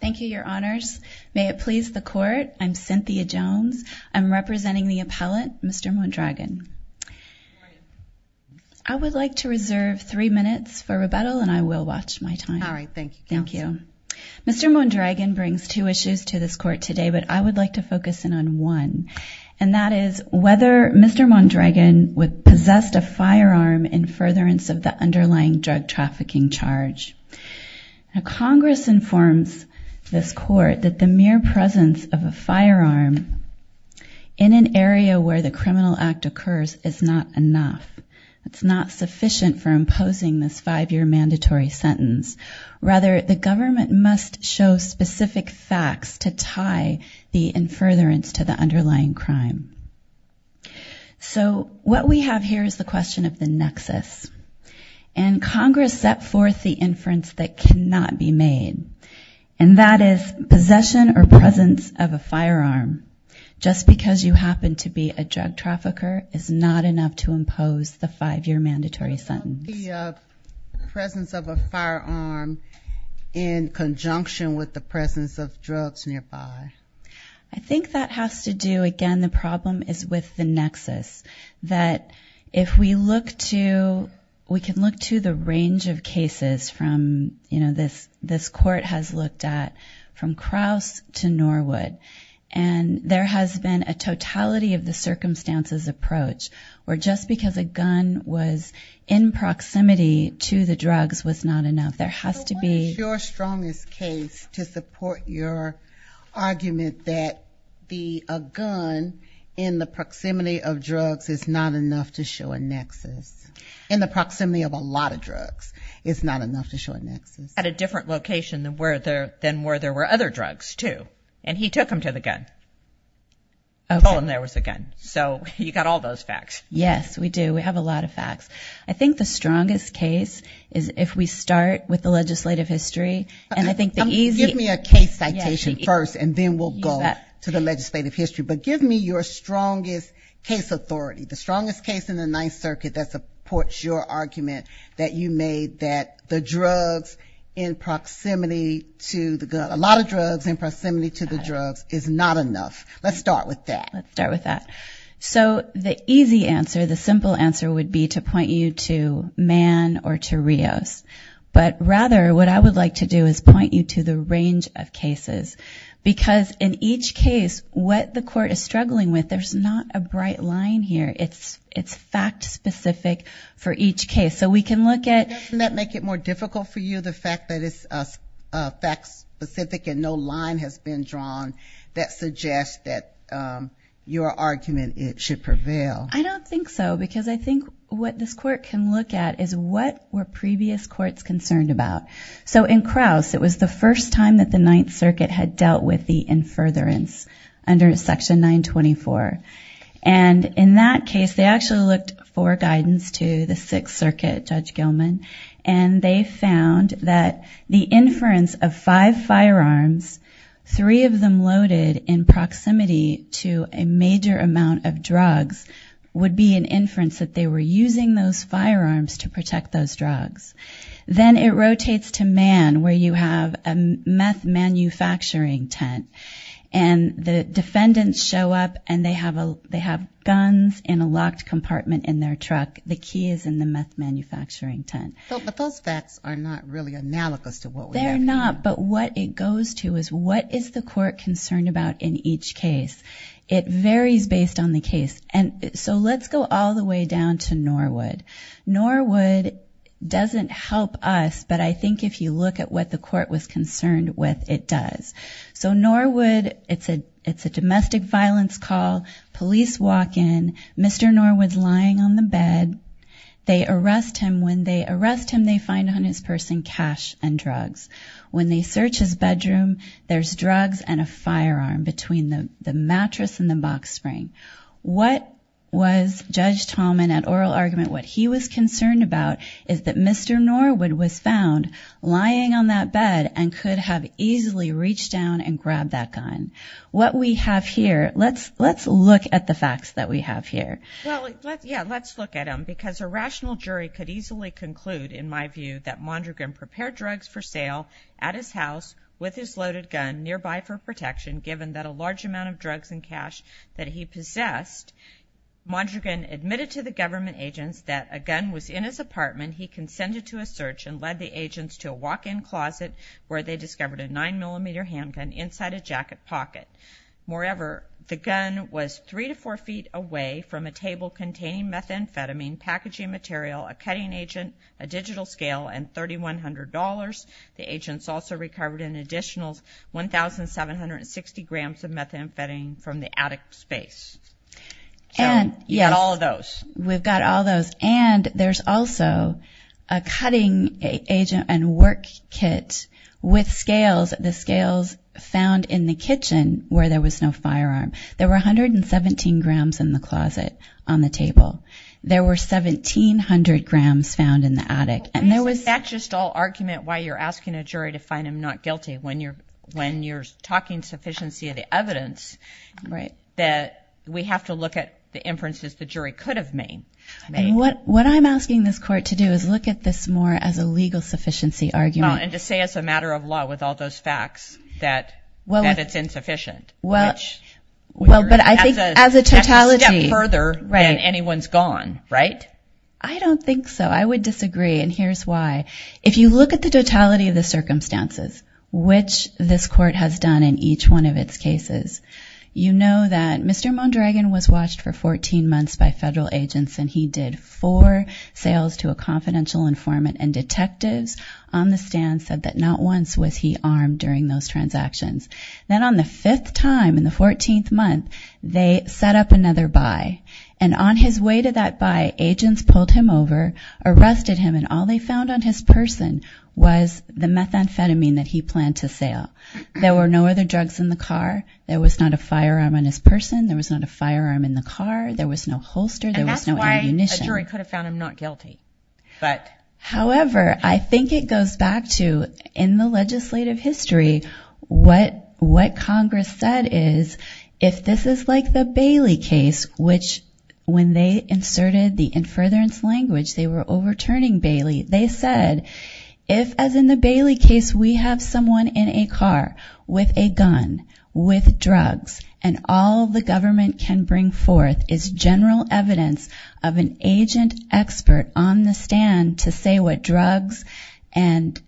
Thank you, your honors. May it please the court. I'm Cynthia Jones. I'm representing the appellate, Mr. Mondragon. I would like to reserve three minutes for rebuttal and I will watch my time. All right, thank you. Thank you. Mr. Mondragon brings two issues to this court today, but I would like to focus in on one, and that is whether Mr. Mondragon would possess a firearm in furtherance of the underlying drug trafficking charge. Congress informs this court that the mere presence of a firearm in an area where the criminal act occurs is not enough. It's not sufficient for imposing this five-year mandatory sentence. Rather, the government must show specific facts to tie the in furtherance to the underlying crime. So what we have here is the question of the nexus, and Congress set forth the inference that cannot be made, and that is possession or presence of a firearm, just because you happen to be a drug trafficker, is not enough to impose the five-year mandatory sentence. The presence of a firearm in conjunction with the presence of drugs nearby. I think that has to do, again, the problem is with the nexus, that if we look to, we know this court has looked at from Krauss to Norwood, and there has been a totality of the circumstances approach, where just because a gun was in proximity to the drugs was not enough. There has to be... So what is your strongest case to support your argument that a gun in the proximity of drugs is not enough to show a nexus? In the proximity of a lot of drugs, it's not enough to show a nexus. At a different location than where there were other drugs, too, and he took them to the gun. Told him there was a gun. So you got all those facts. Yes, we do. We have a lot of facts. I think the strongest case is if we start with the legislative history, and I think the easy... Give me a case citation first, and then we'll go to the legislative history, but give me your strongest case authority, the strongest case in the Ninth Circuit that supports your argument that a lot of drugs in proximity to the drugs is not enough. Let's start with that. Let's start with that. So the easy answer, the simple answer would be to point you to Mann or to Rios, but rather what I would like to do is point you to the range of cases, because in each case, what the court is struggling with, there's not a bright line here. It's fact-specific for each case. So we can look at... Doesn't that make it more difficult for you, the fact that it's fact-specific and no line has been drawn that suggests that your argument should prevail? I don't think so, because I think what this court can look at is what were previous courts concerned about. So in Krauss, it was the first time that the Ninth Circuit had dealt with the in furtherance under Section 924. And in that case, they actually looked for guidance to the Sixth Circuit, Judge Gilman, and they found that the inference of five firearms, three of them loaded in proximity to a major amount of drugs, would be an inference that they were using those firearms to protect those drugs. Then it rotates to Mann, where you have a meth-manufacturing tent, and the defendants show up and they have guns in a locked compartment in their truck. The key is in the meth-manufacturing tent. But those facts are not really analogous to what we have here. They're not, but what it goes to is what is the court concerned about in each case. It varies based on the case. So let's go all the way down to Norwood. Norwood doesn't help us, but I think if you look at what the court was concerned with, it does. So Norwood, it's a domestic violence call. Police walk in. Mr. Norwood's lying on the bed. They arrest him. When they arrest him, they find on his person cash and drugs. When they search his bedroom, there's drugs and a firearm between the mattress and the box spring. What was Judge Tallman, at oral argument, what he was concerned about is that Mr. Norwood was found lying on that bed and could have easily reached down and grabbed that gun. What we have here, let's look at the facts that we have here. Well, yeah, let's look at them because a rational jury could easily conclude, in my view, that Mondragon prepared drugs for sale at his house with his loaded gun nearby for protection given that a large amount of drugs and cash that he possessed, Mondragon admitted to the and led the agents to a walk-in closet where they discovered a nine millimeter handgun inside a jacket pocket. Moreover, the gun was three to four feet away from a table containing methamphetamine packaging material, a cutting agent, a digital scale, and $3,100. The agents also recovered an additional 1,760 grams of methamphetamine from the attic space. So, you've got all of those. We've got all those and there's also a cutting agent and work kit with scales, the scales found in the kitchen where there was no firearm. There were 117 grams in the closet on the table. There were 1,700 grams found in the attic and there was... That's just all argument why you're asking a jury to find him not guilty when you're talking sufficiency of the evidence that we have to look at the inferences the jury could have made. What I'm asking this court to do is look at this more as a legal sufficiency argument. And to say as a matter of law with all those facts that it's insufficient. Well, but I think as a totality... As a step further than anyone's gone, right? I don't think so. I would disagree and here's why. If you look at the totality of the circumstances which this court has done in each one of its cases. You know that Mr. Mondragon was watched for 14 months by federal agents and he did four sales to a confidential informant and detectives on the stand said that not once was he armed during those transactions. Then on the fifth time in the 14th month, they set up another buy. And on his way to that buy, agents pulled him over, arrested him and all they found on his person was the methamphetamine that he planned to sell. There were no other drugs in the car. There was not a firearm on his person. There was not a firearm in the car. There was no holster. There was no ammunition. And that's why a jury could have found him not guilty. However, I think it goes back to in the legislative history. What Congress said is if this is like the Bailey case, which when they inserted the If, as in the Bailey case, we have someone in a car with a gun, with drugs, and all the government can bring forth is general evidence of an agent expert on the stand to say what drugs and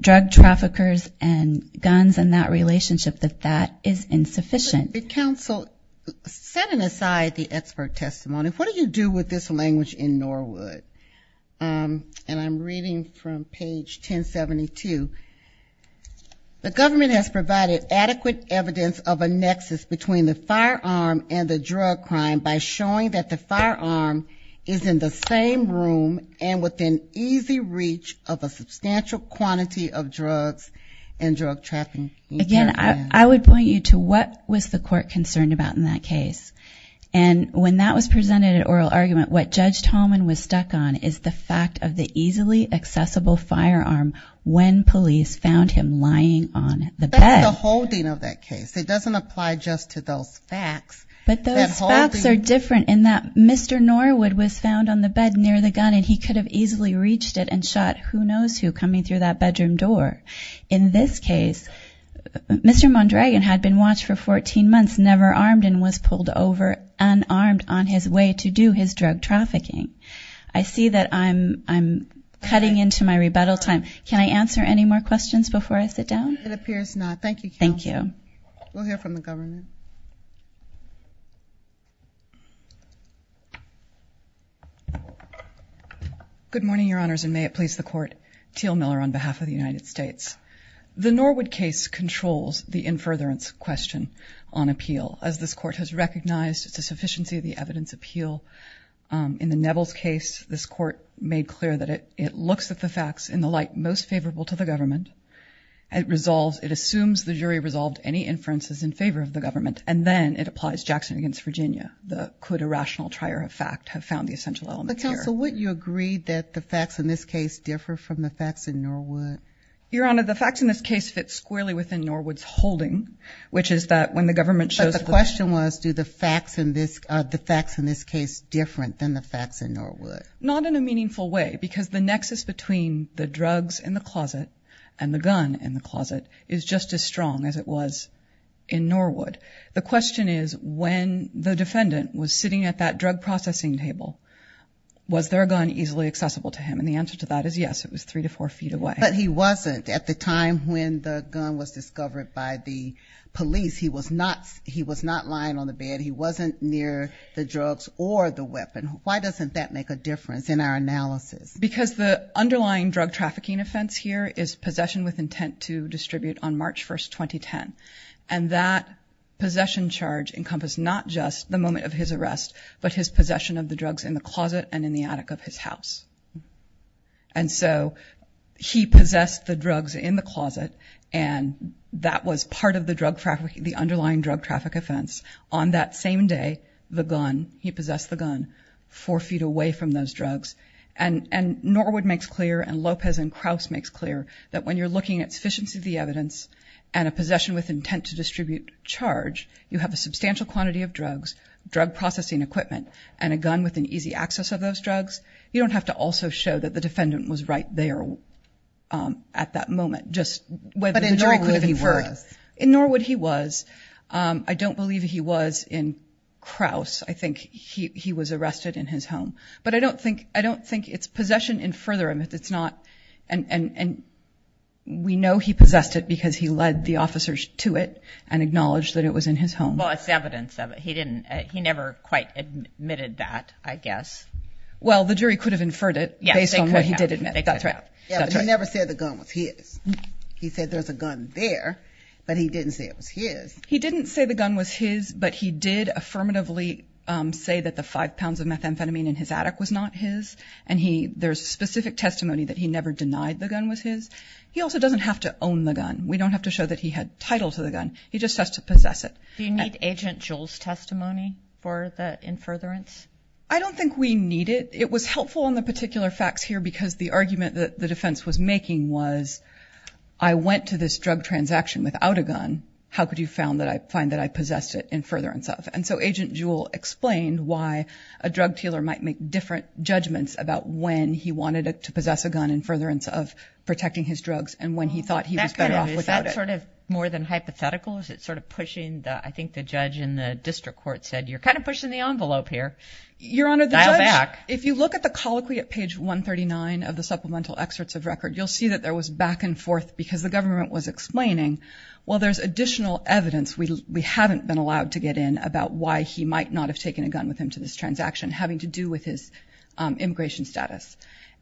drug traffickers and guns and that relationship, that that is insufficient. But counsel, setting aside the expert testimony, what do you do with this language in Norwood? And I'm reading from page 1072. The government has provided adequate evidence of a nexus between the firearm and the drug crime by showing that the firearm is in the same room and within easy reach of a substantial quantity of drugs and drug trafficking. Again, I would point you to what was the court concerned about in that case. And when that was presented at oral argument, what Judge Tolman was stuck on is the fact of the easily accessible firearm when police found him lying on the bed. That's the whole thing of that case. It doesn't apply just to those facts. But those facts are different in that Mr. Norwood was found on the bed near the gun and he could have easily reached it and shot who knows who coming through that bedroom door. In this case, Mr. Mondragon had been watched for 14 months, never armed and was pulled over unarmed on his way to do his drug trafficking. I see that I'm cutting into my rebuttal time. Can I answer any more questions before I sit down? It appears not. Thank you, counsel. We'll hear from the government. Good morning, your honors, and may it please the court. Teal Miller on behalf of the United States. The Norwood case controls the in furtherance question on appeal. As this court has recognized, it's a sufficiency of the evidence appeal. In the Neville's case, this court made clear that it looks at the facts in the light most favorable to the government. It resolves, it assumes the jury resolved any inferences in favor of the government and then it applies Jackson against Virginia. Could a rational trier of fact have found the essential element here? But counsel, wouldn't you agree that the facts in this case differ from the facts in Norwood? Your honor, the facts in this case fit squarely within Norwood's holding, which is that when the government shows the question was, do the facts in this, the facts in this case different than the facts in Norwood? Not in a meaningful way, because the nexus between the drugs in the closet and the gun in the closet is just as strong as it was in Norwood. The question is when the defendant was sitting at that drug processing table, was there a gun easily accessible to him? And the answer to that is yes, it was three to four feet away. But he wasn't at the time when the gun was discovered by the police. He was not, he was not lying on the bed. He wasn't near the drugs or the weapon. Why doesn't that make a difference in our analysis? Because the underlying drug trafficking offense here is possession with intent to distribute on March 1st, 2010. And that possession charge encompassed not just the moment of his arrest, but his possession of the drugs in the closet and in the attic of his house. And so he possessed the drugs in the closet and that was part of the drug trafficking, the underlying drug traffic offense. On that same day, the gun, he possessed the gun four feet away from those drugs. And Norwood makes clear and Lopez and Krauss makes clear that when you're looking at sufficiency of the evidence and a possession with intent to distribute charge, you have a substantial quantity of drugs, drug processing equipment, and a gun with an easy access of those drugs. You don't have to also show that the defendant was right there at that moment, just whether he was. In Norwood he was. I don't believe he was in Krauss. I think he was arrested in his home. But I don't think, I don't think it's possession in further and it's not. And we know he possessed it because he led the officers to it and acknowledged that it was in his home. Well, it's evidence of it. He didn't, he never quite admitted that, I guess. Well, the jury could have inferred it based on what he did admit. That's right. Yeah, but he never said the gun was his. He said there's a gun there, but he didn't say it was his. He didn't say the gun was his, but he did affirmatively say that the five pounds of methamphetamine in his attic was not his. And he, there's specific testimony that he never denied the gun was his. He also doesn't have to own the gun. We don't have to show that he had title to the gun. He just has to possess it. Do you need agent Joel's testimony for the in furtherance? I don't think we need it. It was helpful in the particular facts here because the argument that the defense was making was I went to this drug transaction without a gun. How could you find that I find that I possessed it in furtherance of? And so agent Joel explained why a drug dealer might make different judgments about when he wanted to possess a gun in furtherance of protecting his drugs. And when he thought he was better off without it. Is that sort of more than hypothetical? Is it sort of pushing the, I think the judge in the district court said, you're kind of pushing the envelope here. If you look at the colloquy at page 139 of the supplemental excerpts of record, you'll see that there was back and forth because the government was explaining, well, there's additional evidence. We haven't been allowed to get in about why he might not have taken a gun with him to this transaction having to do with his immigration status.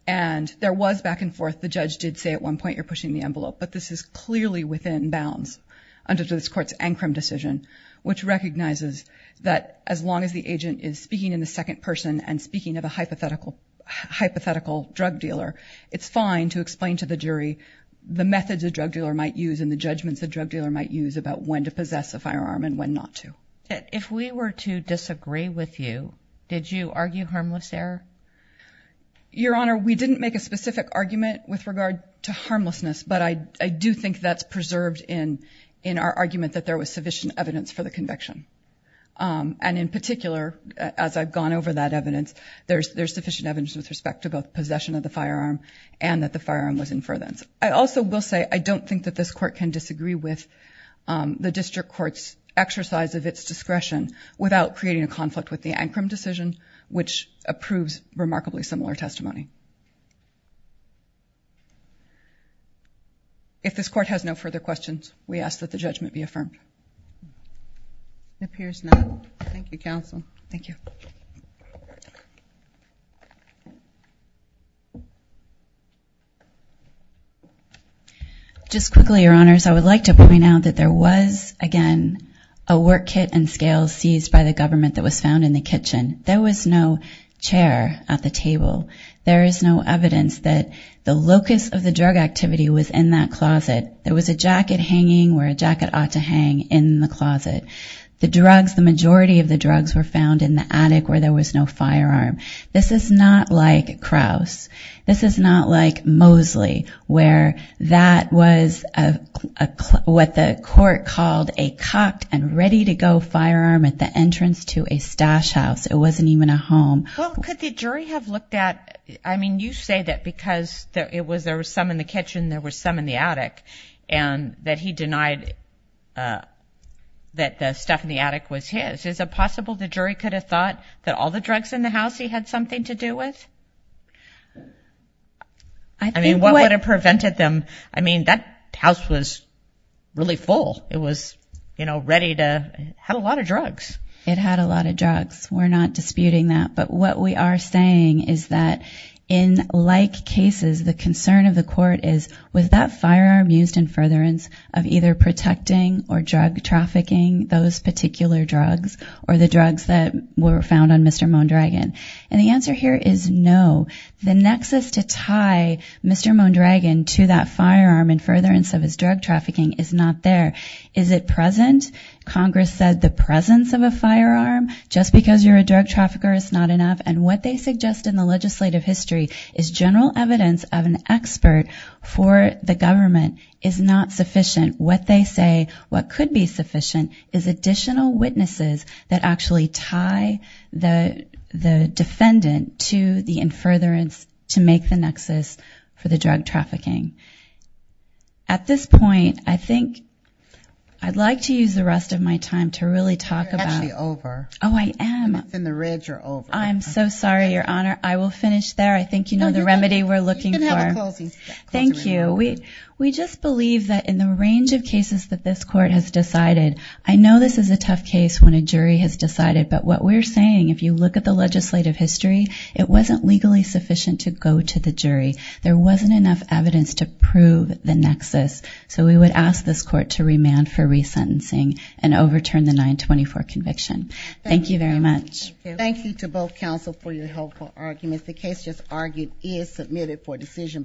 And there was back and forth. The judge did say at one point you're pushing the envelope, but this is clearly within bounds under this court's Ancrum decision, which recognizes that as long as the agent is speaking in the second person and speaking of a hypothetical hypothetical drug dealer, it's fine to explain to the jury the methods of drug dealer might use in the judgments the drug dealer might use about when to possess a firearm and when not to. If we were to disagree with you, did you argue harmless error? Your Honor, we didn't make a specific argument with regard to harmlessness, but I do think that's preserved in our argument that there was sufficient evidence for the conviction. And in particular, as I've gone over that evidence, there's sufficient evidence with respect to both possession of the firearm and that the firearm was in for that. I also will say I don't think that this court can disagree with the district court's exercise of its discretion without creating a conflict with the Ancrum decision, which approves remarkably similar testimony. If this court has no further questions, we ask that the judgment be affirmed. It appears not. Thank you, counsel. Thank you. Just quickly, Your Honors, I would like to point out that there was, again, a work kit and scale seized by the government that was found in the kitchen. There was no chair at the table. There is no evidence that the locus of the drug activity was in that closet. There was a jacket hanging where a jacket ought to hang in the closet. The drugs, the majority of the drugs, were found in the attic where there was no firearm. This is not like Krauss. This is not like Mosley, where that was what the court called a cocked and ready-to-go firearm at the entrance to a stash house. It wasn't even a home. Could the jury have looked at—I mean, you say that because there was some in the kitchen, there was some in the attic, and that he denied that the stuff in the attic was his. Is it possible the jury could have thought that all the drugs in the house he had something to do with? I mean, what would have prevented them? I mean, that house was really full. It was, you know, ready to—had a lot of drugs. It had a lot of drugs. We're not disputing that, but what we are saying is that in like cases, the concern of the court is, was that firearm used in furtherance of either protecting or drug trafficking those particular drugs or the drugs that were found on Mr. Mondragon? And the answer here is no. The nexus to tie Mr. Mondragon to that firearm in furtherance of his drug trafficking is not there. Is it present? Congress said the presence of a firearm just because you're a drug trafficker is not enough. And what they suggest in the legislative history is general evidence of an expert for the government is not sufficient. What they say what could be sufficient is additional witnesses that actually tie the defendant to the in furtherance to make the nexus for the drug trafficking. At this point, I think I'd like to use the rest of my time to really talk about— You're actually over. Oh, I am. And it's in the red, you're over. I'm so sorry, Your Honor. I will finish there. I think you know the remedy we're looking for. No, you can have a closing statement. Thank you. We just believe that in the range of cases that this court has decided, I know this is a tough case when a jury has decided, but what we're saying, if you look at the legislative history, it wasn't legally sufficient to go to the jury. There wasn't enough evidence to prove the nexus. So we would ask this court to remand for resentencing and overturn the 924 conviction. Thank you very much. Thank you to both counsel for your helpful arguments. The case just argued is submitted for decision.